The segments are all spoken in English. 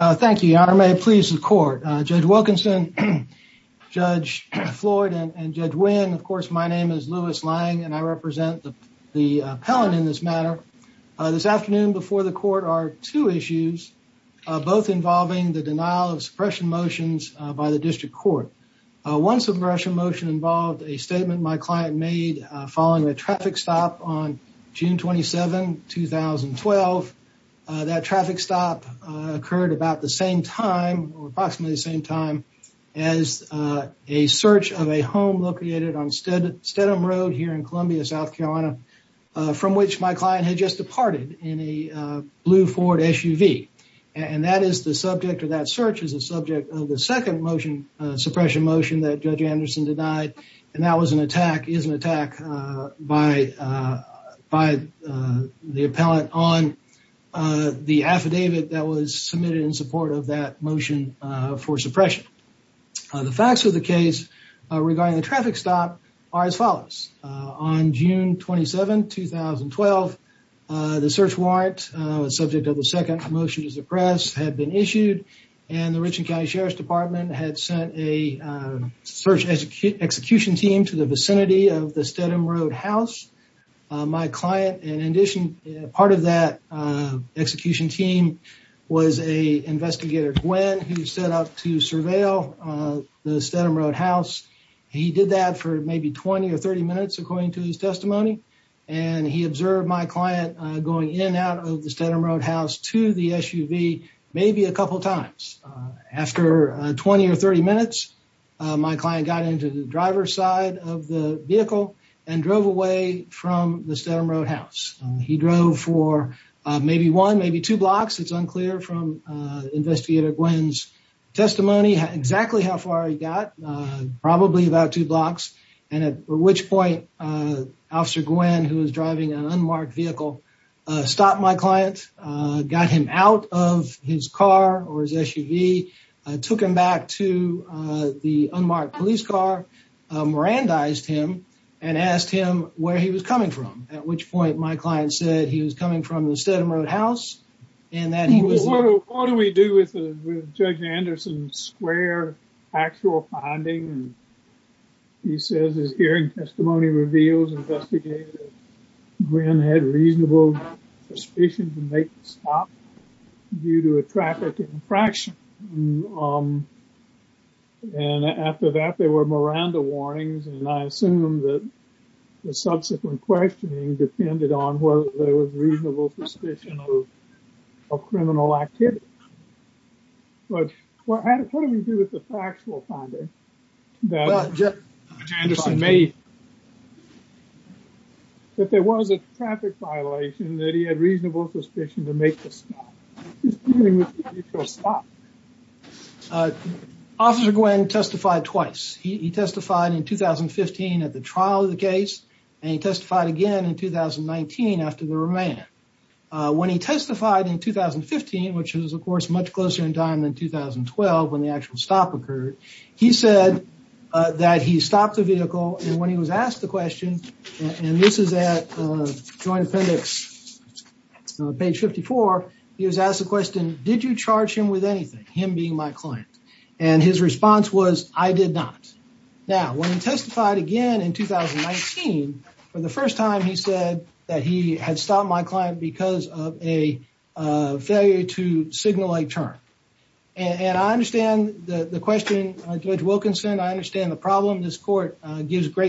Thank you, Your Honor. May it please the court. Judge Wilkinson, Judge Floyd, and Judge Wynn, of course, my name is Louis Lang and I represent the appellant in this matter. This afternoon before the court are two issues, both involving the denial of suppression motions by the district court. One suppression motion involved a statement my client made following a traffic stop on June 27, 2012. That traffic stop occurred about the same time or approximately the same time as a search of a home located on Stedham Road here in Columbia, South Carolina, from which my client had just departed in a blue Ford SUV. And that is the subject of that search is the subject of the second motion suppression motion that Judge Anderson denied. And that was is an attack by the appellant on the affidavit that was submitted in support of that motion for suppression. The facts of the case regarding the traffic stop are as follows. On June 27, 2012, the search warrant subject of the second motion to suppress had been issued and the of the Stedham Road house. My client, in addition, part of that execution team was a investigator, Gwen, who set up to surveil the Stedham Road house. He did that for maybe 20 or 30 minutes according to his testimony. And he observed my client going in and out of the Stedham Road house to the SUV maybe a couple of times. After 20 or 30 minutes, my client got into the vehicle and drove away from the Stedham Road house. He drove for maybe one, maybe two blocks. It's unclear from investigator Gwen's testimony exactly how far he got, probably about two blocks. And at which point, Officer Gwen, who was driving an unmarked vehicle, stopped my client, got him out of his car or his SUV, took him back to the unmarked police car, mirandized him, and asked him where he was coming from. At which point, my client said he was coming from the Stedham Road house and that he was... What do we do with Judge Anderson's square actual finding? He says his hearing testimony reveals investigator Gwen had reasonable suspicion to make the stop due to a traffic infraction. And after that, there were Miranda warnings. And I assume that the subsequent questioning depended on whether there was reasonable suspicion of criminal activity. But what do we do with the factual finding that Judge Anderson made? That there was a traffic violation, that he had reasonable suspicion to make the stop. Officer Gwen testified twice. He testified in 2015 at the trial of the case, and he testified again in 2019 after the remand. When he testified in 2015, which is, of course, much closer in time than 2012 when the actual stop occurred, he said that he stopped the vehicle and when he was driving and he was asked the question, and this is at Joint Appendix page 54, he was asked the question, did you charge him with anything, him being my client? And his response was, I did not. Now, when he testified again in 2019, for the first time he said that he had stopped my client because of a failure to signal a turn. And I understand the question, Judge Wilkinson, I understand the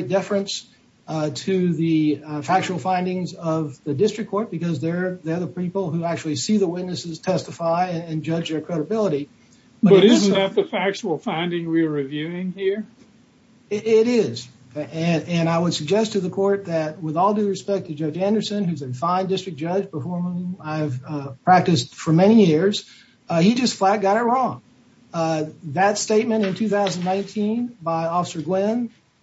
deference to the factual findings of the district court because they're the people who actually see the witnesses testify and judge their credibility. But isn't that the factual finding we're reviewing here? It is. And I would suggest to the court that with all due respect to Judge Anderson, who's a fine district judge, before whom I've practiced for many years, he just flat got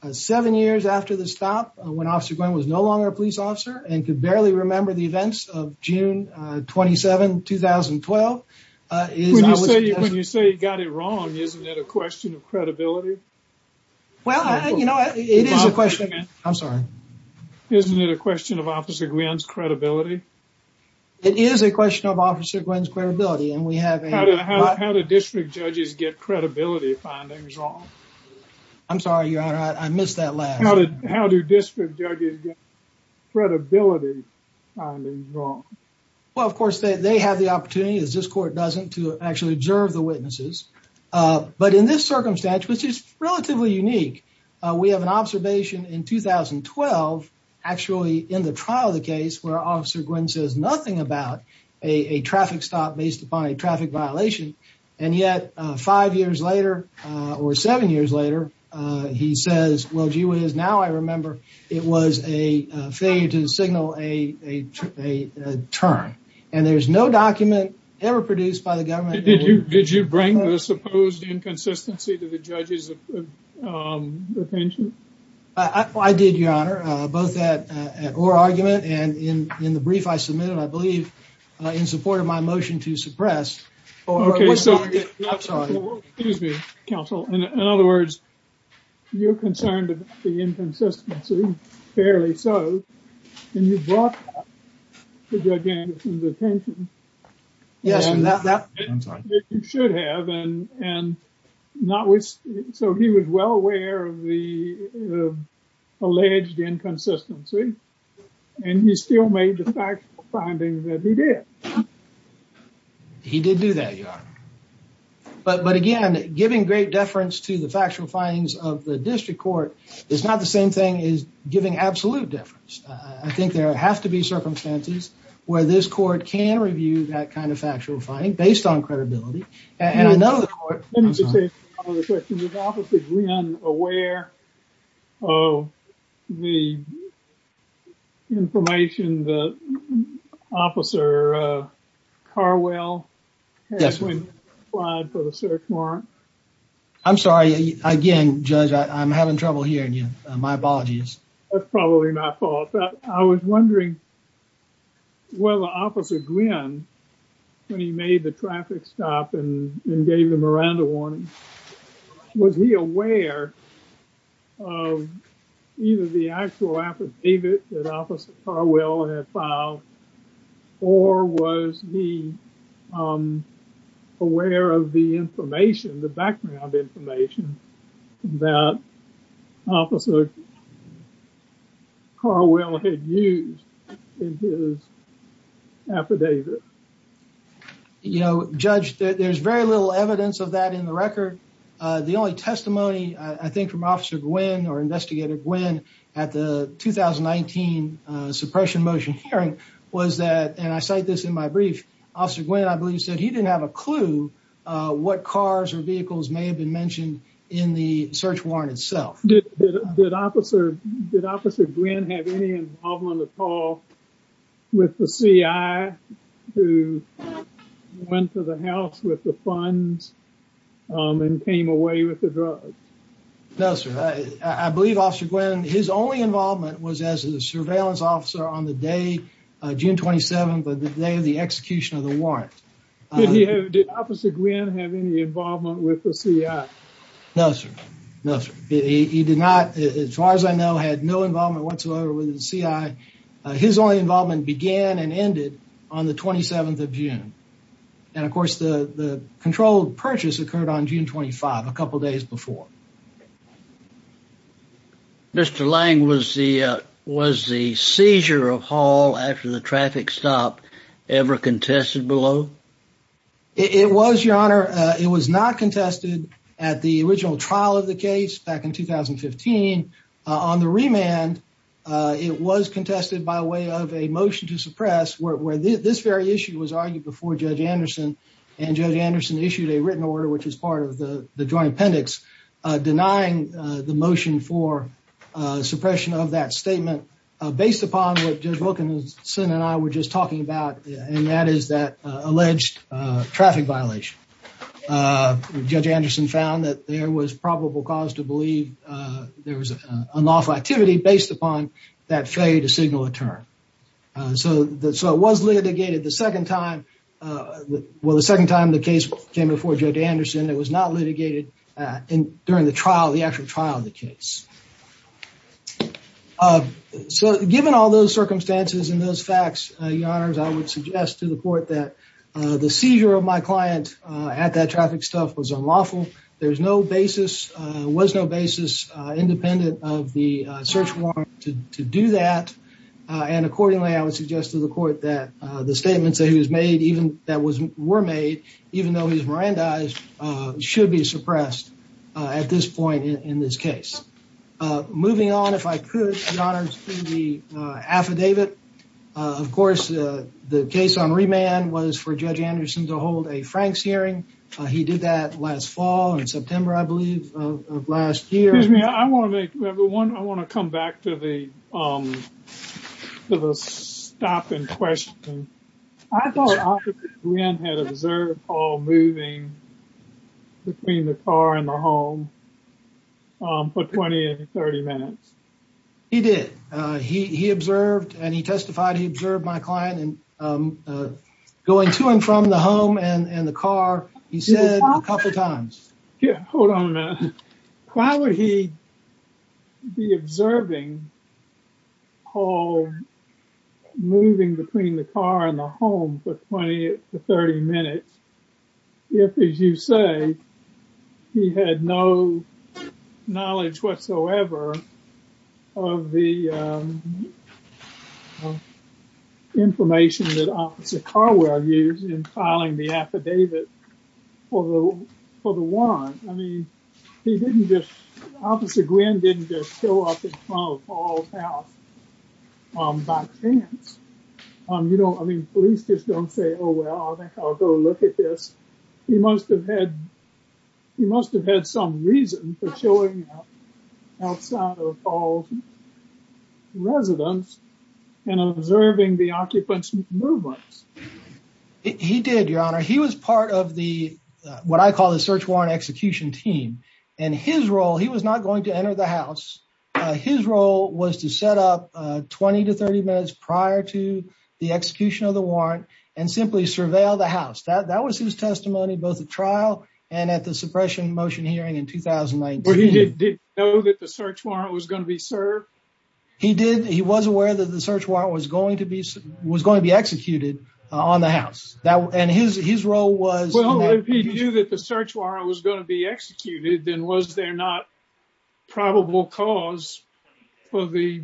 it seven years after the stop when Officer Gwen was no longer a police officer and could barely remember the events of June 27, 2012. When you say he got it wrong, isn't that a question of credibility? Well, you know, it is a question. I'm sorry. Isn't it a question of Officer Gwen's credibility? It is a question of Officer Gwen's credibility. And how do district judges get that wrong? Well, of course, they have the opportunity, as this court doesn't, to actually observe the witnesses. But in this circumstance, which is relatively unique, we have an observation in 2012, actually in the trial of the case where Officer Gwen says nothing about a traffic stop now I remember it was a failure to signal a turn. And there's no document ever produced by the government. Did you bring the supposed inconsistency to the judge's attention? I did, Your Honor, both that argument and in the brief I submitted, I believe, in support of my motion to suppress. Okay, so, excuse me, counsel. In other words, you're concerned about the inconsistency, fairly so, and you brought that to Judge Anderson's attention. Yes, I'm sorry. You should have, and so he was well aware of the alleged inconsistency, and he still made the factual finding that he did. He did do that, Your Honor. But again, giving great deference to the factual findings of the district court is not the same thing as giving absolute deference. I think there have to be circumstances where this court can review that kind of factual finding based on credibility. And I know the court... Let me just say, a couple of questions. Is Officer Gwen aware of the information that Officer Carwell had when he applied for the search warrant? I'm sorry. Again, Judge, I'm having trouble hearing you. My apologies. That's probably my fault. I was wondering whether Officer Gwen, when he made the traffic stop and was he aware of either the actual affidavit that Officer Carwell had filed or was he aware of the information, the background information that Officer Carwell had used in his affidavit? You know, Judge, there's very little evidence of that in the record. The only testimony, I think, from Officer Gwen or Investigator Gwen at the 2019 suppression motion hearing was that, and I cite this in my brief, Officer Gwen, I believe, said he didn't have a clue what cars or vehicles may have been mentioned in the search warrant itself. Did Officer Gwen have any involvement at all with the CI who went to the house with the funds and came away with the drugs? No, sir. I believe Officer Gwen, his only involvement was as a surveillance officer on the day, June 27th, the day of the execution of the warrant. Did Officer Gwen have any involvement with the CI? No, sir. No, sir. He did not, as far as I know, had no involvement whatsoever with the CI. His only involvement began and ended on the 27th of June. And, of course, the controlled purchase occurred on June 25th, a couple days before. Mr. Lang, was the seizure of Hall after the traffic stop ever contested below? It was, Your Honor. It was not contested at the original trial of the case back in 2015. On the remand, it was contested by way of a motion to suppress, where this very issue was argued before Judge Anderson. And Judge Anderson issued a written order, which is part of the joint appendix, denying the motion for suppression of that statement, based upon what Judge Wilkinson and I were just talking about, and that is that alleged traffic violation. Judge Anderson found that there was probable cause to believe there was unlawful activity based upon that failure to signal a turn. So, it was litigated the second time, well, the second time the case came before Judge Anderson. It was not litigated during the trial, the actual trial of the case. So, given all those circumstances and those facts, Your Honors, I would suggest to the Court that the seizure of my client at that traffic stop was unlawful. There's no basis, was no basis, independent of the search warrant to do that. And accordingly, I would suggest to the Court that the statements that were made, even though he's Mirandized, should be suppressed at this point in this case. Moving on, if I could, Your Honors, to the affidavit. Of course, the case on remand was for Judge Anderson to hold a Franks hearing. He did that last fall, in September, I believe, of last year. Excuse me, I want to make, everyone, I want to come back to the stop in question. I thought Officer Glynn had observed Paul moving between the car and the home for 20 to 30 minutes. He did. He observed, and he testified, he observed my client going to and from the home and the car, he said a couple times. Hold on a minute. Why would he be observing Paul moving between the car and the home for 20 to 30 minutes? That's the information that Officer Carwell used in filing the affidavit for the warrant. I mean, he didn't just, Officer Glynn didn't just show up in front of Paul's house by chance. You know, I mean, police just don't say, oh, well, I think I'll go look at this. He must have had, he must have had some reason for showing up outside of Paul's residence and observing the occupant's movements. He did, Your Honor. He was part of the, what I call the search warrant execution team. And his role, he was not going to enter the house. His role was to set up 20 to 30 minutes prior to the execution of the warrant and simply surveil the house. That was his testimony, both at trial and at the suppression motion hearing in 2019. Did he know that the search warrant was going to be served? He did. He was aware that the search warrant was going to be executed on the house. And his role was... Well, if he knew that the search warrant was going to be executed, then was there not probable cause for the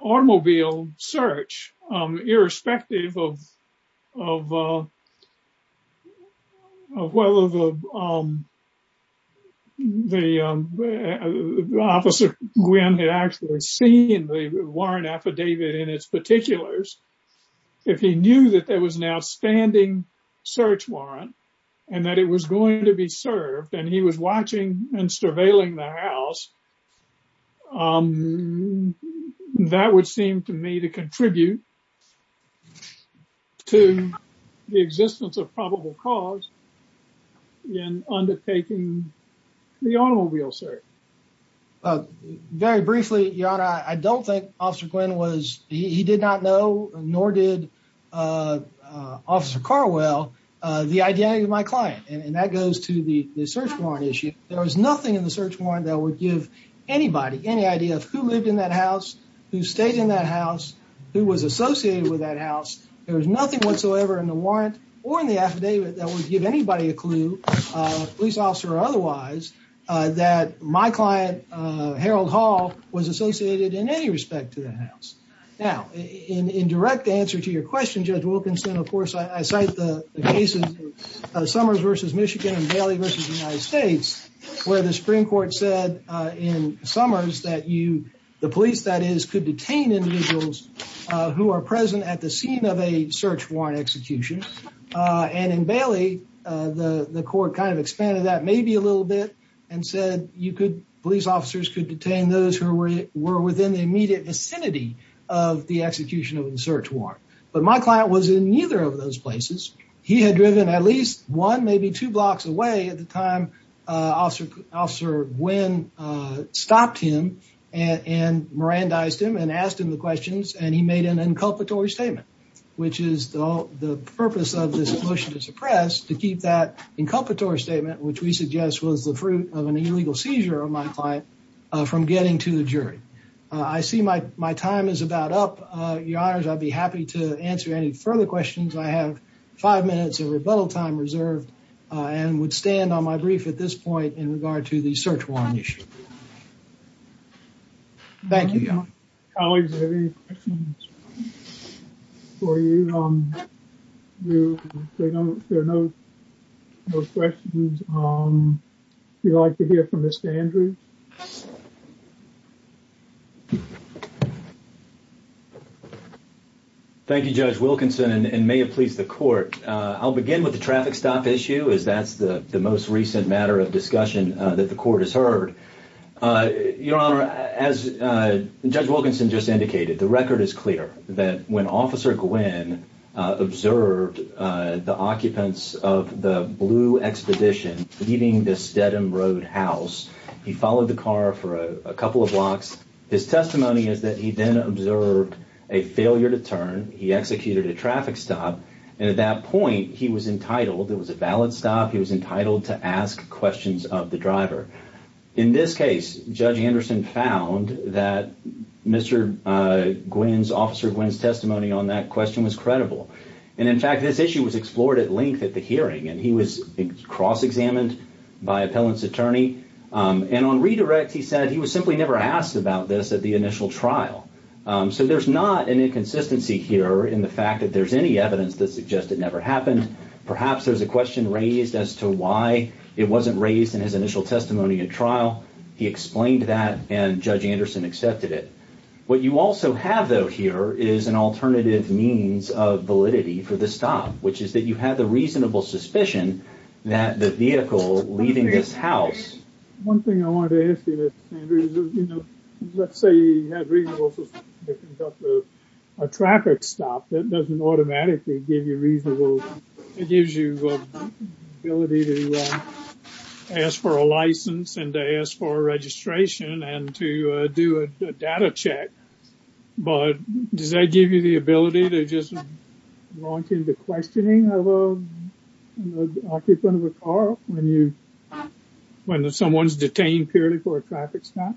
automobile search, irrespective of whether the officer, Gwen, had actually seen the warrant affidavit in its particulars. If he knew that there was an outstanding search warrant and that it was going to be served and he was watching and surveilling the house, that would seem to me to contribute to the existence of probable cause in undertaking the automobile search. Very briefly, Your Honor, I don't think Officer Gwen was... He did not know, nor did Officer Carwell, the identity of my client. And that goes to the search warrant issue. There was nothing in the search warrant that would give anybody any idea of who lived in that house, who stayed in that house, who was associated with that house. There was nothing whatsoever in the warrant or in the affidavit that would give anybody a clue, police officer or otherwise, that my client, Harold Hall, was associated in any respect to that house. Now, in direct answer to your question, Judge Wilkinson, of course, I cite the cases of Summers v. Michigan and Bailey v. United States, where the Supreme Court said in Summers that the police, that is, could detain individuals who are present at the scene of a search warrant execution. And in Bailey, the court kind of expanded that maybe a little bit and said police officers could detain those who were within the immediate vicinity of the execution of the search warrant. But my client was in neither of those cases. Officer Nguyen stopped him and mirandized him and asked him the questions and he made an inculpatory statement, which is the purpose of this motion to suppress, to keep that inculpatory statement, which we suggest was the fruit of an illegal seizure of my client, from getting to the jury. I see my time is about up, Your Honors. I'd be happy to answer any further questions. I have five minutes of rebuttal time reserved and would stand on my brief at this point in regard to the search warrant issue. Thank you, Your Honor. Colleagues, are there any questions for you? There are no questions. We'd like to hear from Mr. Andrews. Thank you, Judge Wilkinson, and may it please the court. I'll begin with the traffic stop issue, as that's the most recent matter of discussion that the court has heard. Your Honor, as Judge Wilkinson just indicated, the record is clear that when Officer Nguyen observed the occupants of the Blue Expedition leaving the Stedham Road house, he followed the car for a couple of blocks. His testimony is that he then observed a failure to turn, he executed a traffic stop, and at that point, he was entitled, it was a valid stop, he was entitled to ask questions of the driver. In this case, Judge Anderson found that Mr. Nguyen's, Officer Nguyen's testimony on that question was credible, and in fact, this issue was explored at length at the hearing, and he was cross-examined by appellant's attorney, and on redirect, he said he was simply never asked about this at the initial trial. So there's not an inconsistency here in the fact that there's any evidence that suggests it never happened. Perhaps there's a question raised as to why it wasn't raised in his initial testimony at trial. He explained that, and Judge Anderson accepted it. What you also have, though, here is an alternative means of validity for the stop, which is that you have the reasonable suspicion that the vehicle leaving this house... One thing I wanted to ask you, Mr. Sanders, is, you know, let's say you have reasonable suspicion to conduct a traffic stop, that doesn't automatically give you reasonable, it gives you the ability to ask for a license and to ask for a registration and to do a data check, but does that give you the ability to just launch into questioning of an occupant of a car when you, when someone's detained purely for a traffic stop?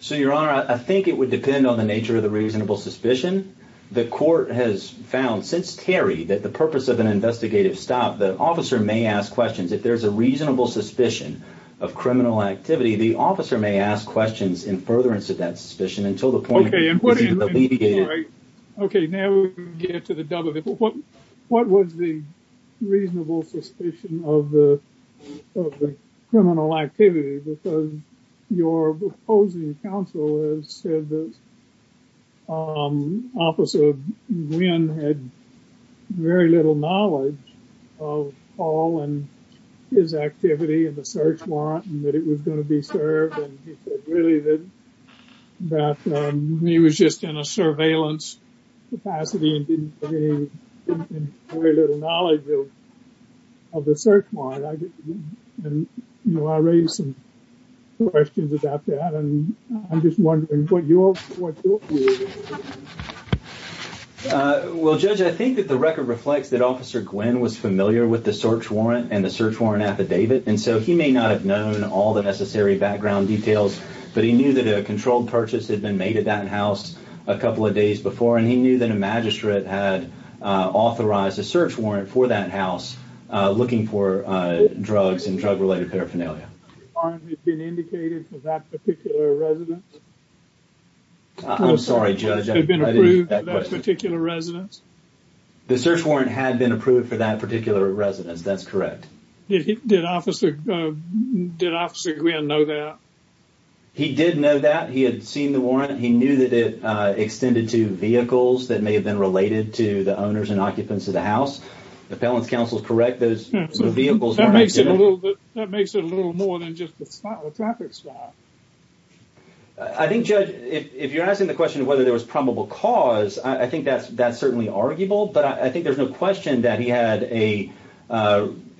So, Your Honor, I think it would depend on the nature of the reasonable suspicion. The court has found, since Terry, that the purpose of an investigative stop, the officer may ask questions. If there's a reasonable suspicion of criminal activity, the officer may ask questions in furtherance of that suspicion until the point... Okay, now we get to the W. What was the counsel that said that Officer Nguyen had very little knowledge of Paul and his activity and the search warrant and that it was going to be served, and he said really that he was just in a surveillance capacity and didn't have very little knowledge of the search warrant, and, you know, raised some questions about that, and I'm just wondering what your view is. Well, Judge, I think that the record reflects that Officer Nguyen was familiar with the search warrant and the search warrant affidavit, and so he may not have known all the necessary background details, but he knew that a controlled purchase had been made at that house a couple of days before, and he knew that a magistrate had authorized a search warrant for that house looking for drugs and drug-related paraphernalia. The warrant had been indicated for that particular residence? I'm sorry, Judge, I didn't hear that question. The search warrant had been approved for that particular residence. That's correct. Did Officer Nguyen know that? He did know that. He had seen the warrant. He knew that it extended to vehicles that may have been related to the vehicle. That makes it a little more than just the traffic spot. I think, Judge, if you're asking the question whether there was probable cause, I think that's certainly arguable, but I think there's no question that he had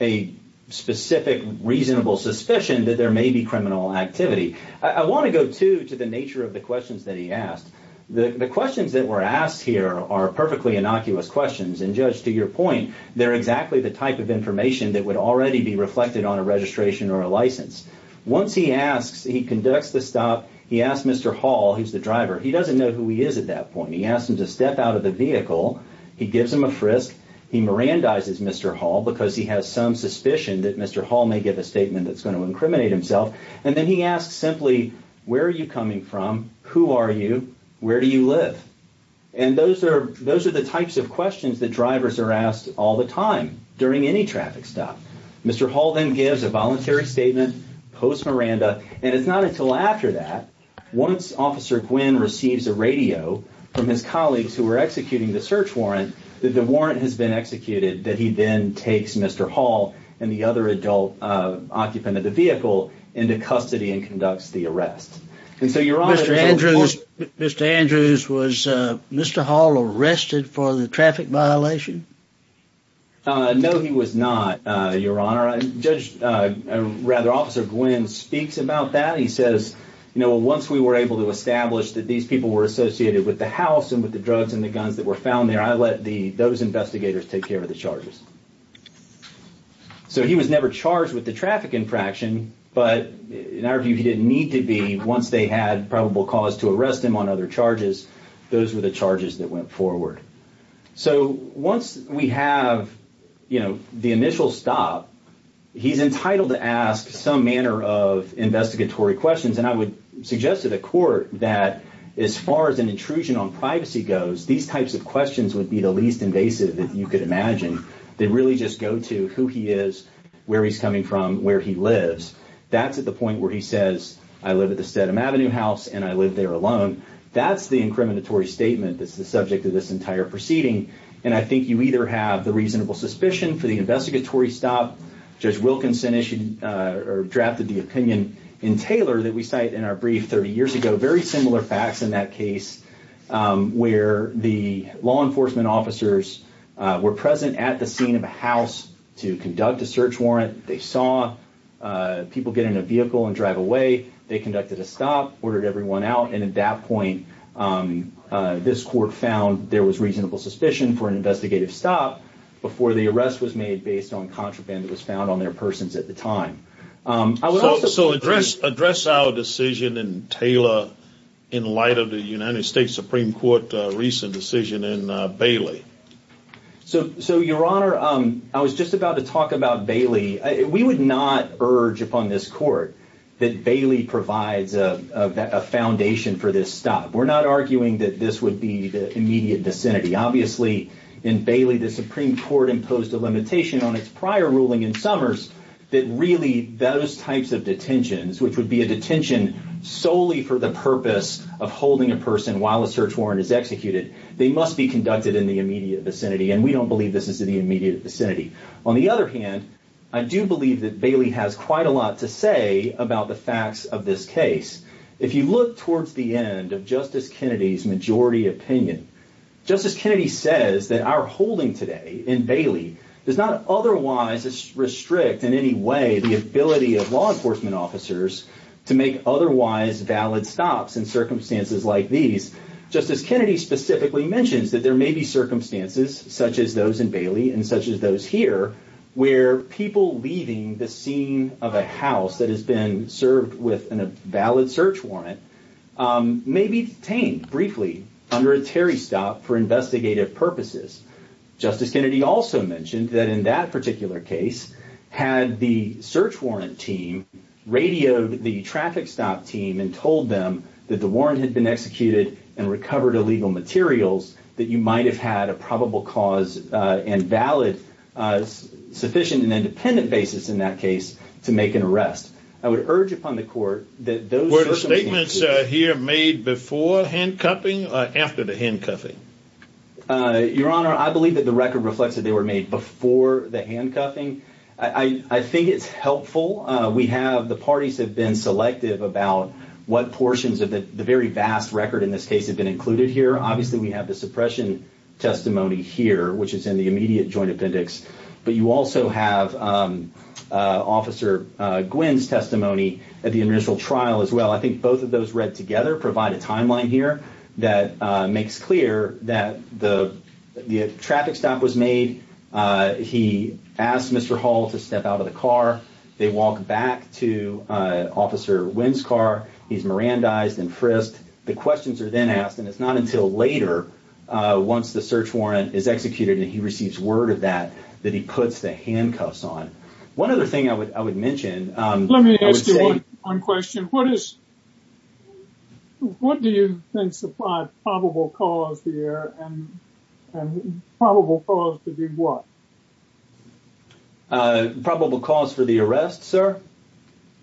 a specific reasonable suspicion that there may be criminal activity. I want to go, too, to the nature of the questions that he asked. The questions that were asked here are perfectly innocuous questions, and, Judge, to your point, they're exactly the type of information that would already be reflected on a registration or a license. Once he asks, he conducts the stop, he asks Mr. Hall, who's the driver, he doesn't know who he is at that point. He asks him to step out of the vehicle. He gives him a frisk. He mirandizes Mr. Hall because he has some suspicion that Mr. Hall may give a statement that's going to incriminate himself, and then he asks simply, where are you coming from? Who are you? Where do you live? And those are the types of questions that drivers are asked all the time during any traffic stop. Mr. Hall then gives a voluntary statement, post-miranda, and it's not until after that, once Officer Gwinn receives a radio from his colleagues who were executing the search warrant, that the warrant has been executed, that he then takes Mr. Hall and the other adult occupant of the Mr. Hall arrested for the traffic violation? No, he was not, Your Honor. Judge, rather, Officer Gwinn speaks about that. He says, you know, once we were able to establish that these people were associated with the house and with the drugs and the guns that were found there, I let those investigators take care of the charges. So he was never charged with the traffic infraction, but in our view, he didn't need to be once they had probable cause to arrest him on other charges. Those were the charges that went forward. So once we have, you know, the initial stop, he's entitled to ask some manner of investigatory questions, and I would suggest to the court that as far as an intrusion on privacy goes, these types of questions would be the least invasive that you could imagine. They really just go to who he is, where he's coming from, where he lives. That's at the point where he says, I live at the Stedham Avenue house and I live there alone. That's the incriminatory statement that's the subject of this entire proceeding, and I think you either have the reasonable suspicion for the investigatory stop, Judge Wilkinson drafted the opinion in Taylor that we cite in our brief 30 years ago, very similar facts in that case where the law enforcement officers were present at the scene of a house to conduct a search warrant. They saw people get in a vehicle and drive away. They conducted a stop, ordered everyone out, and at that point, this court found there was reasonable suspicion for an investigative stop before the arrest was made based on contraband that was found on their persons at the time. So address our decision in Taylor in light of the United States Supreme Court recent decision in Bailey. So your honor, I was just about to talk about Bailey. We would not urge upon this court that Bailey provides a foundation for this stop. We're not arguing that this would be the immediate vicinity. Obviously in Bailey, the Supreme Court imposed a limitation on its prior ruling in summers that really those types of detentions, which would be a detention solely for the purpose of holding a person while a search warrant is executed, they must be conducted in the immediate vicinity, and we don't believe this is in the immediate vicinity. On the other hand, I do believe that Bailey has quite a lot to say about the facts of this case. If you look towards the end of Justice Kennedy's majority opinion, Justice Kennedy says that our holding today in Bailey does not otherwise restrict in any way the ability of law enforcement officers to make otherwise valid stops in circumstances like these. Justice Kennedy specifically mentions that there may be circumstances such as those in Bailey and such as those here where people leaving the scene of a house that has been served with a valid search warrant may be detained briefly under a Terry stop for investigative purposes. Justice Kennedy also mentioned that in that particular case, had the search warrant team radioed the traffic stop team and told them that the warrant had been executed and recovered illegal materials, that you might have had a probable cause and valid sufficient and independent basis in that case to make an arrest. I would urge upon the court that those statements here made before handcuffing or after the handcuffing? Your Honor, I believe that the record reflects that they were made before the handcuffing. I think it's helpful. We have the parties have been selective about what portions of the very vast record in this case have been included here. Obviously, we have the suppression testimony here, which is in the immediate joint appendix, but you also have Officer Gwynn's testimony at the initial trial as well. I think both of those read together provide a timeline here that makes clear that the traffic stop was made. He asked Mr. Hall to step out of the car. They walk back to Officer Wynn's car. He's Mirandized and frisked. The questions are then asked, and it's not until later once the search warrant is executed and he receives word of that, that he puts the handcuffs on. One other thing I would mention... Let me ask you one question. What do you think supplied probable cause here and probable cause to do what? Probable cause for the arrest, sir?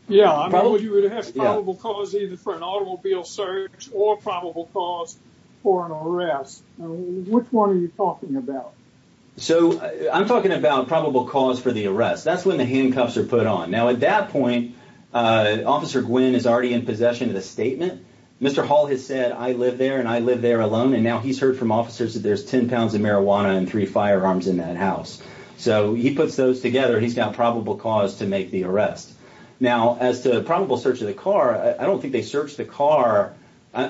Yeah, I know you would have probable cause either for an automobile search or probable cause for an automobile search. I'm talking about probable cause for the arrest. That's when the handcuffs are put on. Now, at that point, Officer Gwynn is already in possession of the statement. Mr. Hall has said, I live there and I live there alone, and now he's heard from officers that there's 10 pounds of marijuana and three firearms in that house. He puts those together. He's got probable cause to make the arrest. Now, as to probable search of the car, I don't think they might... I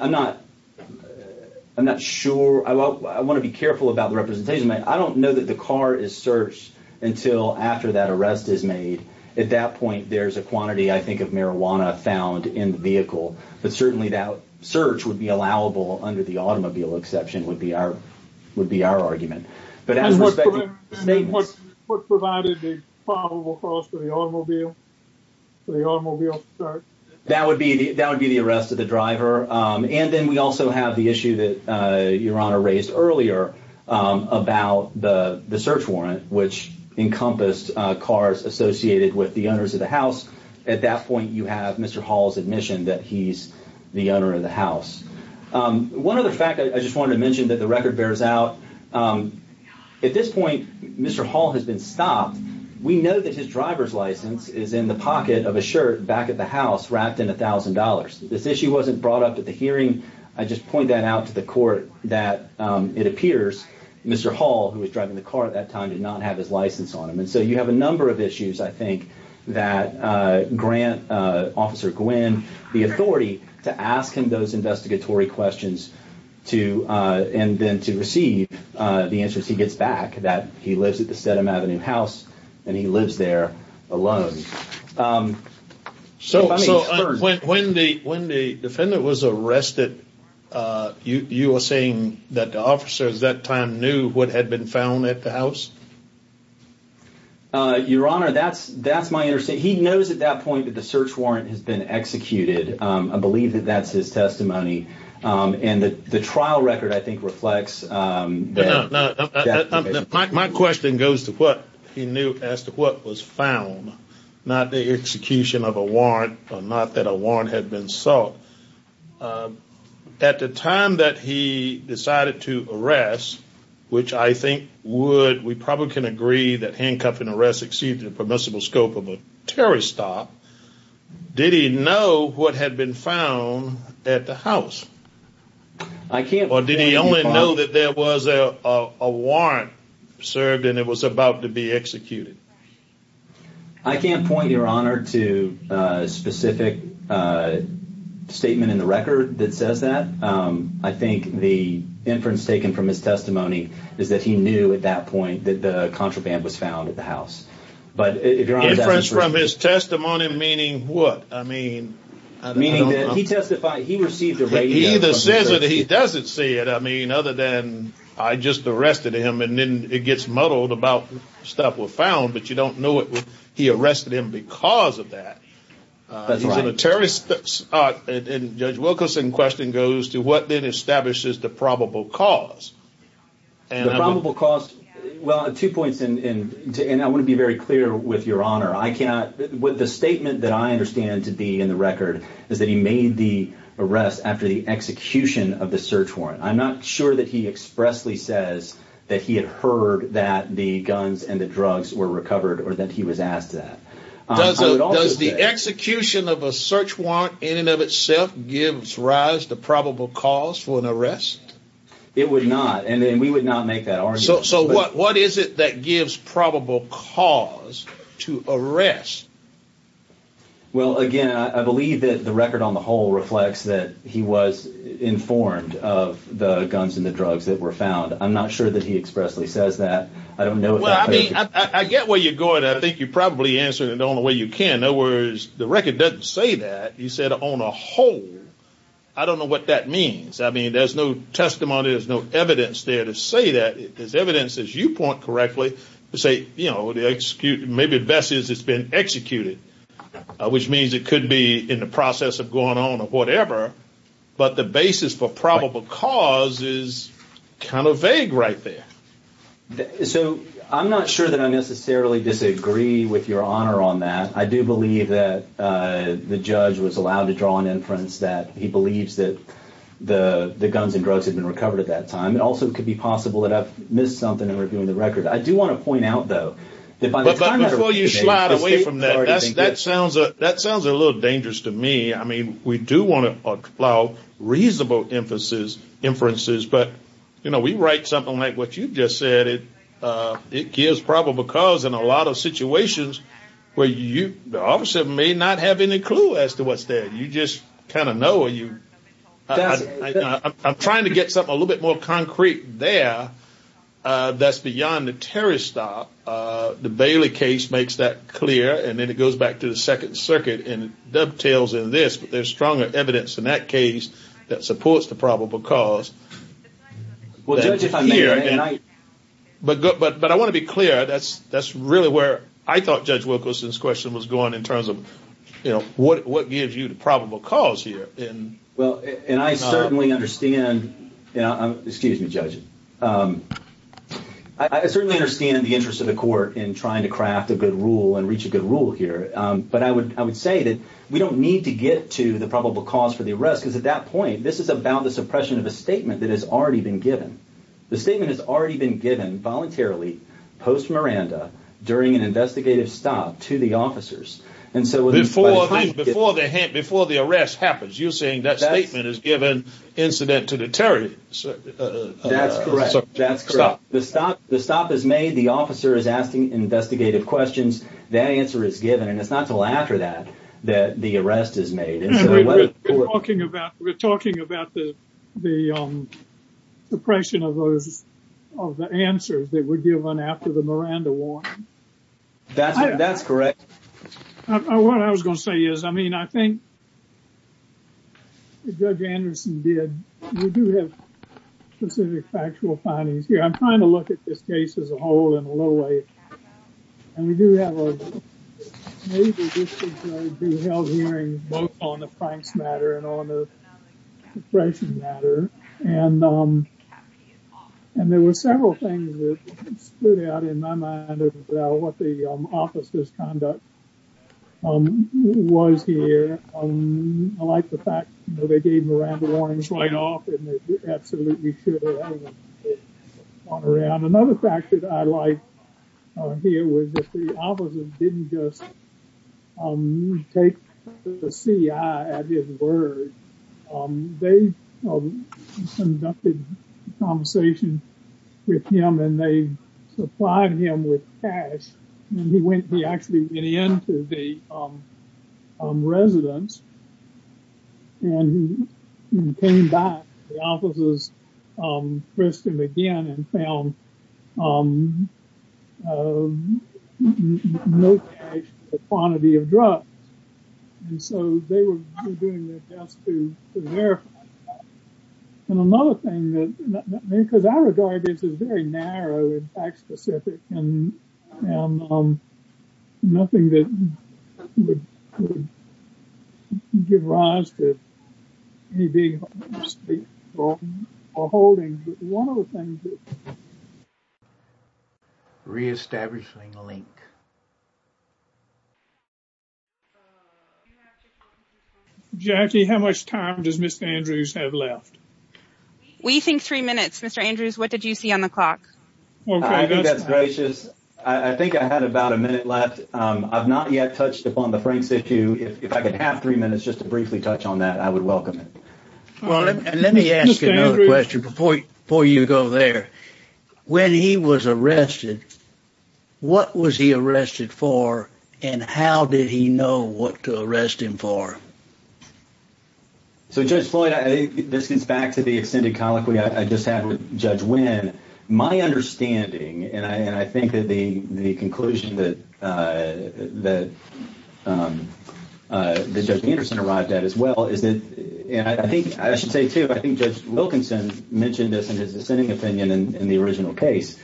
don't know that the car is searched until after that arrest is made. At that point, there's a quantity, I think, of marijuana found in the vehicle, but certainly that search would be allowable under the automobile exception would be our argument. But as respecting the statement... And what provided the probable cause for the automobile search? That would be the arrest of the driver. And then we also have the issue that about the search warrant, which encompassed cars associated with the owners of the house. At that point, you have Mr. Hall's admission that he's the owner of the house. One other fact I just wanted to mention that the record bears out. At this point, Mr. Hall has been stopped. We know that his driver's license is in the pocket of a shirt back at the house wrapped in a thousand dollars. This issue wasn't brought up at the hearing. I just point that out to the court that it appears Mr. Hall, who was driving the car at that time, did not have his license on him. And so you have a number of issues, I think, that grant Officer Gwynn the authority to ask him those investigatory questions and then to receive the answers he gets back that he lives at the Stedham Avenue house and he lives there alone. So when the defendant was arrested, you are saying that the officers at that time knew what had been found at the house? Your Honor, that's my understanding. He knows at that point that the search warrant has been executed. I believe that that's his testimony. And the trial record, I think, reflects... My question goes to what he knew as to what was found, not the execution of a warrant or not that warrant had been sought. At the time that he decided to arrest, which I think we probably can agree that handcuffing and arrest exceeded the permissible scope of a terrorist stop, did he know what had been found at the house? Or did he only know that there was a warrant served and it was about to be executed? I can't point, Your Honor, to specific statement in the record that says that. I think the inference taken from his testimony is that he knew at that point that the contraband was found at the house. But if Your Honor... Inference from his testimony meaning what? I mean... Meaning that he testified, he received a radio... He either says it or he doesn't see it. I mean, other than I just arrested him and then it gets muddled about stuff was found, but you don't know he arrested him because of that. He's in a terrorist... And Judge Wilkerson's question goes to what then establishes the probable cause. The probable cause... Well, two points and I want to be very clear with Your Honor. The statement that I understand to be in the record is that he made the arrest after the execution of the search warrant. I'm not sure that he expressly says that he had heard that the guns and the drugs were recovered or that he was asked that. Does the execution of a search warrant in and of itself gives rise to probable cause for an arrest? It would not. And then we would not make that argument. So what is it that gives probable cause to arrest? Well, again, I believe that the record on the whole reflects that he was informed of the guns and the drugs that were found. I'm not sure that he expressly says that. I don't know. Well, I mean, I get where you're going. I think you probably answered it the only way you can. In other words, the record doesn't say that. He said on a whole. I don't know what that means. I mean, there's no testimony. There's no evidence there to say that there's evidence as you point correctly to say, you know, the execute, maybe the best is it's been executed, which means it could be in the process of going on or whatever. But the basis for probable cause is kind of vague right there. So I'm not sure that I necessarily disagree with your honor on that. I do believe that the judge was allowed to draw an inference that he believes that the guns and drugs had been recovered at that time. It also could be possible that I've missed something in reviewing the record. I do want to point out, though, that by the time before you slide away from that, that sounds that sounds a little dangerous to me. I mean, we do want to allow reasonable emphasis inferences. But, you know, we write something like what you've just said. It gives probable cause in a lot of situations where you may not have any clue as to what's there. You just kind of know you. I'm trying to get something a little bit more concrete there. That's beyond the Terry stop. The Bailey case makes that clear. And then it goes back to the Second Circuit and dovetails in this. But there's stronger evidence in that case that supports the probable cause. Well, judge, if I'm here and I but but but I want to be clear, that's that's really where I thought Judge Wilkerson's question was going in terms of, you know, what what gives you the probable cause here? Well, and I certainly understand. Excuse me, judge. I certainly understand the interest of the court in trying to craft a good rule and reach a good rule here. But I would I would say that we don't need to get to the probable cause for the arrest because at that point, this is about the suppression of a statement that has already been given. The statement has already been given voluntarily post Miranda during an investigative stop to the before the arrest happens. You're saying that statement is given incident to the Terry. That's correct. That's correct. The stop the stop is made. The officer is asking investigative questions. That answer is given. And it's not until after that that the arrest is made. We're talking about we're talking about the the suppression of those of the answers that were given after the Miranda war. That's that's correct. What I was going to say is, I mean, I think. Judge Anderson did. We do have specific factual findings here. I'm trying to look at this case as a whole in a little way. And we do have a major hearing both on the Frank's matter and on the suppression matter. And and there were several things that stood out in my mind about what the officer's conduct was here. I like the fact that they gave Miranda warnings right off. Another fact that I like here was that the officer didn't just take the CIA at his word. They conducted a conversation with him and they supplied him with cash. And he went, he actually went into the residence. And he came back to the officer's prison again and found no cash for the quantity of drugs. And so they were doing their best to verify. And another thing that because our regard is very narrow and fact specific and nothing that could give rise to any big state holding. One of the things. Re-establishing link. Jackie, how much time does Mr. Andrews have left? We think three minutes. Mr. Andrews, what did you see on the clock? I think that's gracious. I think I had about a minute left. I've not yet touched upon the Frank's issue. If I could have three minutes just to briefly touch on that, I would welcome it. Well, let me ask another question before you go there. When he was arrested, what was he arrested for and how did he know what to arrest him for? So, Judge Floyd, this is back to the extended colloquy I just had with Judge Wynn. My understanding and I think that the the conclusion that that the judge Anderson arrived at as well is that and I think I should say, too, I think Judge Wilkinson mentioned this in his dissenting opinion in the original case.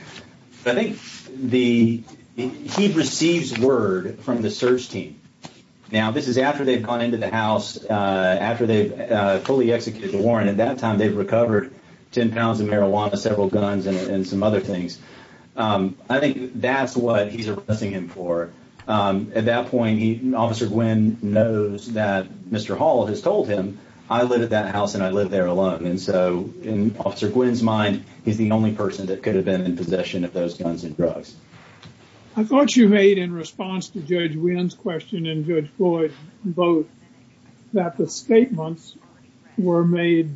I think the he receives word from the search team. Now, this is after they've gone into the house, after they've fully executed the warrant. At that time, they've recovered 10 pounds of marijuana, several guns and some other things. I think that's what he's arresting him for. At that point, Officer Gwynn knows that Mr. Hall has told him, I live at that house and I live there alone. And so in Officer Gwynn's mind, he's the only person that could have been in possession of those guns and drugs. I thought you made in response to Judge Gwynn's question and Judge Floyd both that the statements were made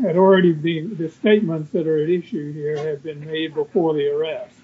had already been the statements that are at issue here have been made before the arrest.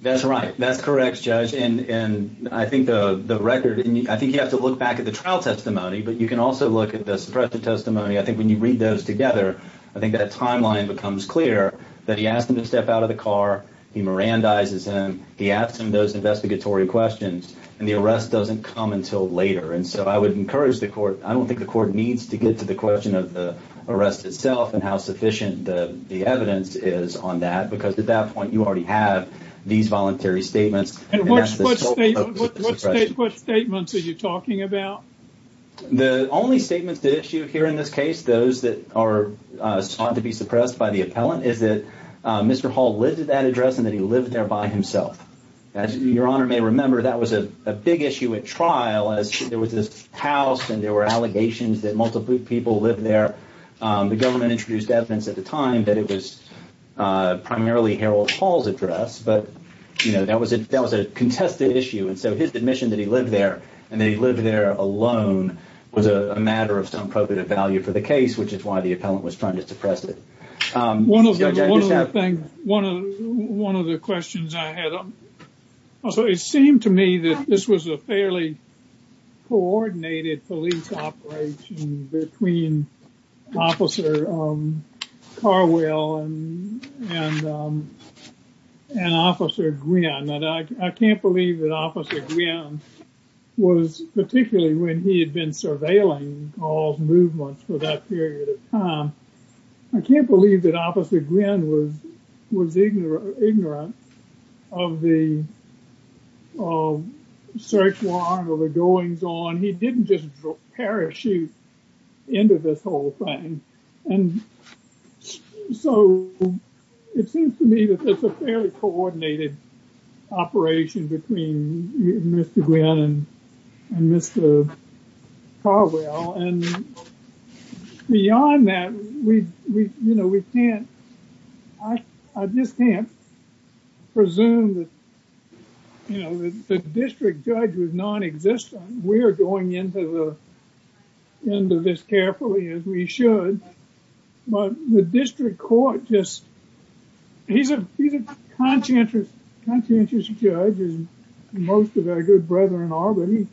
That's right. That's correct, Judge. And I think the record and I think you have to look back at the trial testimony, but you can also look at the suppressive testimony. I think when you read those together, I think that timeline becomes clear that he asked him to step out of the car. He mirandizes him. He asked him those investigatory questions and the arrest doesn't come until later. And so I would encourage the court. I don't think the court needs to get to the question of the arrest itself and how sufficient the evidence is on that, because at that point you already have these voluntary statements. And what statements are you talking about? The only statements to issue here in this case, those that are sought to be suppressed by the appellant, is that Mr. Hall lived at that address and that he lived there by himself. As your honor may remember, that was a big issue at trial as there was this house and there were allegations that multiple people lived there. The government introduced evidence at the time that it was primarily Harold Hall's address, but that was a contested issue. And so his admission that he lived there and that he lived there alone was a matter of some value for the case, which is why the appellant was trying to suppress it. One of the things, one of the questions I had, so it seemed to me that this was a fairly coordinated police operation between Officer Carwell and Officer Gwinn. And I can't believe that Officer Gwinn was, particularly when he had been surveilling Hall's movements for that period of time, I can't believe that Officer Gwinn was ignorant of the search warrant or the goings on. He didn't just parachute into this whole thing. And so it seems to me that it's a fairly coordinated operation between Mr. Gwinn and Mr. Carwell. And beyond that, we can't, I just can't presume that the district judge was non-existent. We're going into this carefully as we should, but the district court just, he's a conscientious judge and most of our good brethren are, but he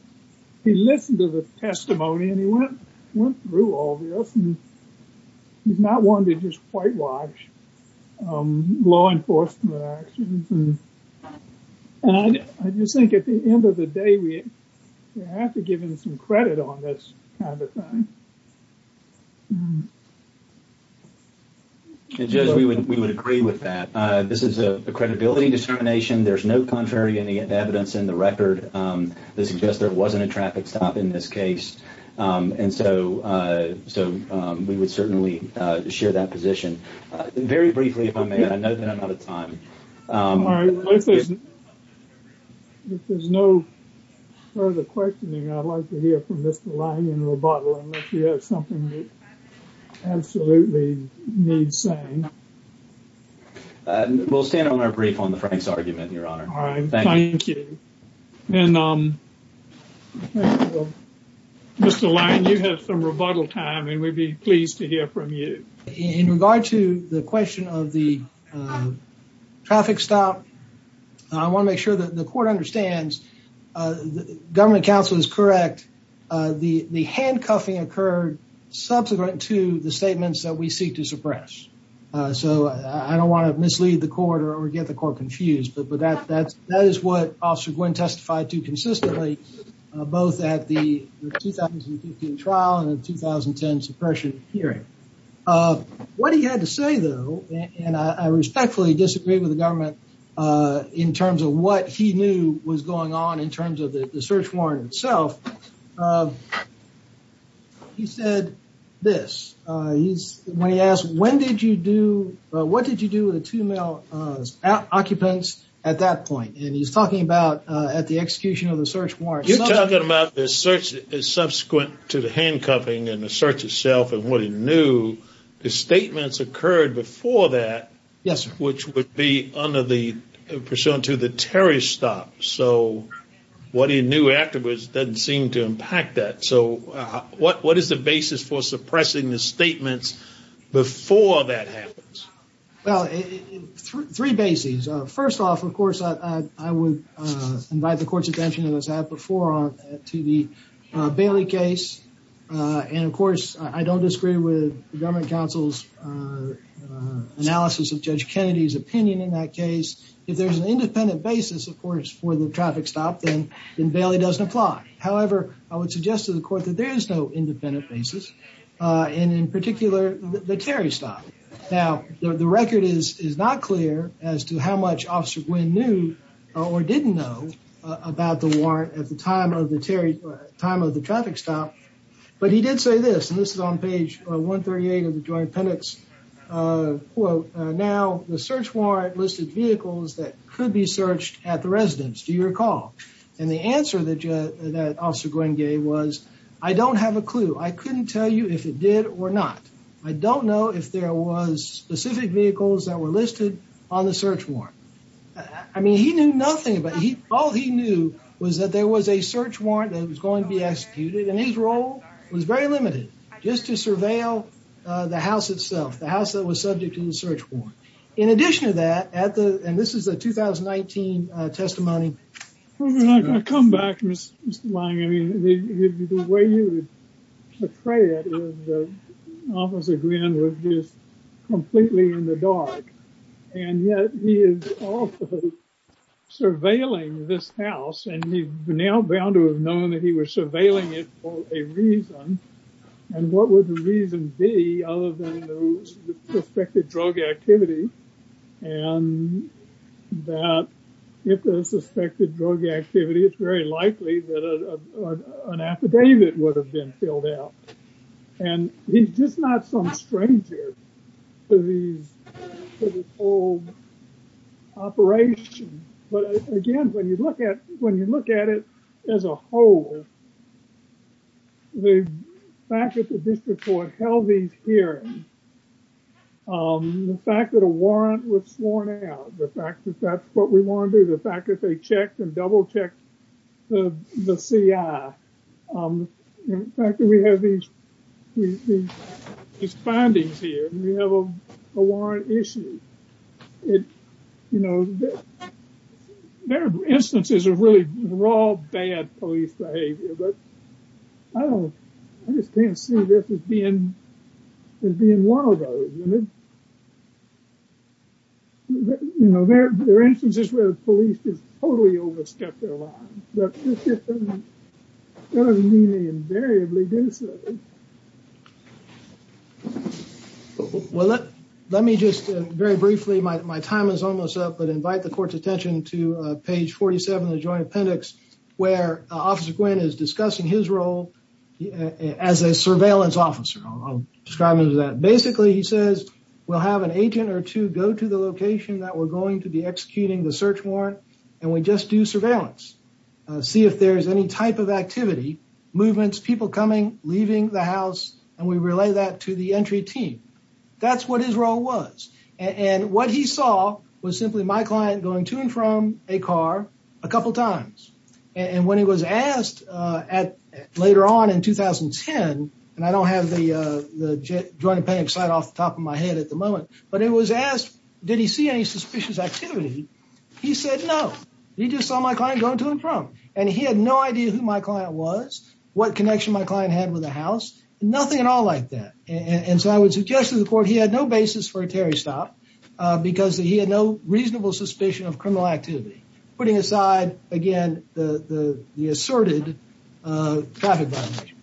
listened to the testimony and he went through all this and he's not one to just whitewash law enforcement actions. And I just think at the end of the day, we have to give him some credit on this kind of thing. And Judge, we would agree with that. This is a credibility dissemination. There's no contrary evidence in the record that suggests there wasn't a traffic stop in this case. And so we would certainly share that position. Very briefly, if I may, I know that I'm out of time. If there's no further questioning, I'd like to hear from Mr. Lyon in rebuttal, unless you have something that absolutely needs saying. We'll stand on our brief on the Frank's argument, Your Honor. All right. Thank you. And Mr. Lyon, you have some rebuttal time and we'd be pleased to hear from you. In regard to the question of the traffic stop, I want to make sure that the court understands the government counsel is correct. The handcuffing occurred subsequent to the statements that we seek to suppress. So I don't want to mislead the court or get the court confused, but that is what Officer Gwinn testified to consistently, both at the 2015 trial and the 2010 suppression hearing. What he had to say, though, and I respectfully disagree with the government in terms of what he knew was going on in terms of the search warrant itself. He said this, when he asked, when did you do, what did you do with the two male occupants at that point? And he's talking about at the execution of the search warrant. You're talking about the search as subsequent to the handcuffing and the search itself and what he knew. The statements occurred before that. Yes, sir. Which would be under the, pursuant to the Terry stop. So what he knew afterwards doesn't seem to impact that. So what, what is the basis for suppressing the statements before that happens? Well, three bases. First off, of course, I would invite the court's attention as I have before to the Bailey case. And of course, I don't disagree with the government counsel's analysis of Judge Kennedy's opinion in that case. If there's an independent basis, of course, for the traffic stop, then Bailey doesn't apply. However, I would suggest to the court that there is no independent basis. And in particular, the Terry stop. Now, the record is not clear as to how much Officer Gwinn knew or didn't know about the warrant at the time of the Terry, time of the traffic stop. But he did say this, and this is on page 138 of the Joint Appendix quote, now the search warrant listed vehicles that could be searched at the residence. Do you recall? And the answer that Officer Gwinn gave was, I don't have a clue. I listed on the search warrant. I mean, he knew nothing, but he, all he knew was that there was a search warrant that was going to be executed. And his role was very limited just to surveil the house itself, the house that was subject to the search warrant. In addition to that, at the, and this is a 2019 testimony. I come back, Mr. Lange. I mean, the way you would portray it is that Officer Gwinn was just completely in the dark. And yet he is also surveilling this house. And he's now bound to have known that he was surveilling it for a reason. And what would the reason be other than the suspected drug activity? And that if the suspected drug activity, it's very likely that an affidavit would have been filed out. And he's just not some stranger to these, to this whole operation. But again, when you look at, when you look at it as a whole, the fact that the district court held these hearings, the fact that a warrant was sworn out, the fact that that's what we want to do, the fact that they checked and double checked the CI, the fact that we have these findings here, we have a warrant issued. It, you know, there are instances of really raw, bad police behavior, but I don't, I just can't see this as being, as being one of those. You know, there are instances where the police just totally overstepped their line, but that doesn't mean they invariably do so. Well, let, let me just very briefly, my time is almost up, but invite the court's attention to page 47 of the joint appendix, where Officer Gwinn is discussing his role as a surveillance officer. Describing that basically, he says, we'll have an agent or two go to the location that we're going to be executing the search warrant. And we just do surveillance, see if there's any type of activity, movements, people coming, leaving the house, and we relay that to the entry team. That's what his role was. And what he saw was simply my client going to and from a car a couple times. And when he was asked at later on in 2010, and I don't have the, the joint appendix slide off the top of my head at the moment, but it was asked, did he see any suspicious activity? He said, no, he just saw my client going to and from. And he had no idea who my client was, what connection my client had with the house, nothing at all like that. And so I would suggest to the court, he had no basis for a Terry stop because he had no reasonable suspicion of criminal activity. Putting aside, again, the, the, the asserted traffic violation.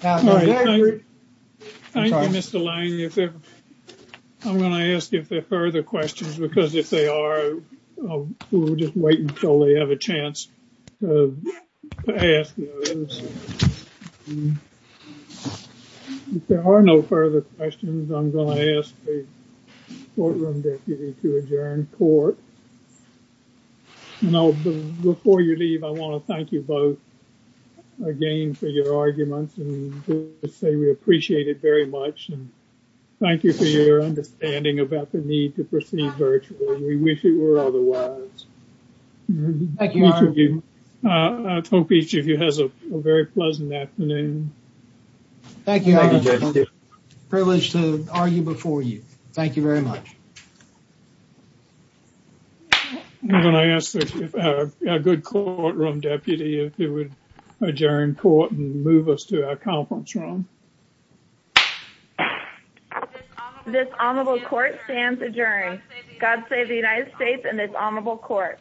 Thank you, Mr. Lane. I'm going to ask if there are further questions, because if they are, we'll just wait until they have a chance to ask those. There are no further questions. I'm going to ask the courtroom deputy to adjourn court. You know, before you leave, I want to thank you both again for your arguments and say we appreciate it very much. And thank you for your understanding about the need to proceed virtually. We wish it were otherwise. Thank you. I hope each of you has a very pleasant afternoon. Thank you. Privilege to argue before you. Thank you very much. I'm going to ask a good courtroom deputy if you would adjourn court and move us to our conference room. This honorable court stands adjourned. God save the United States and this honorable court.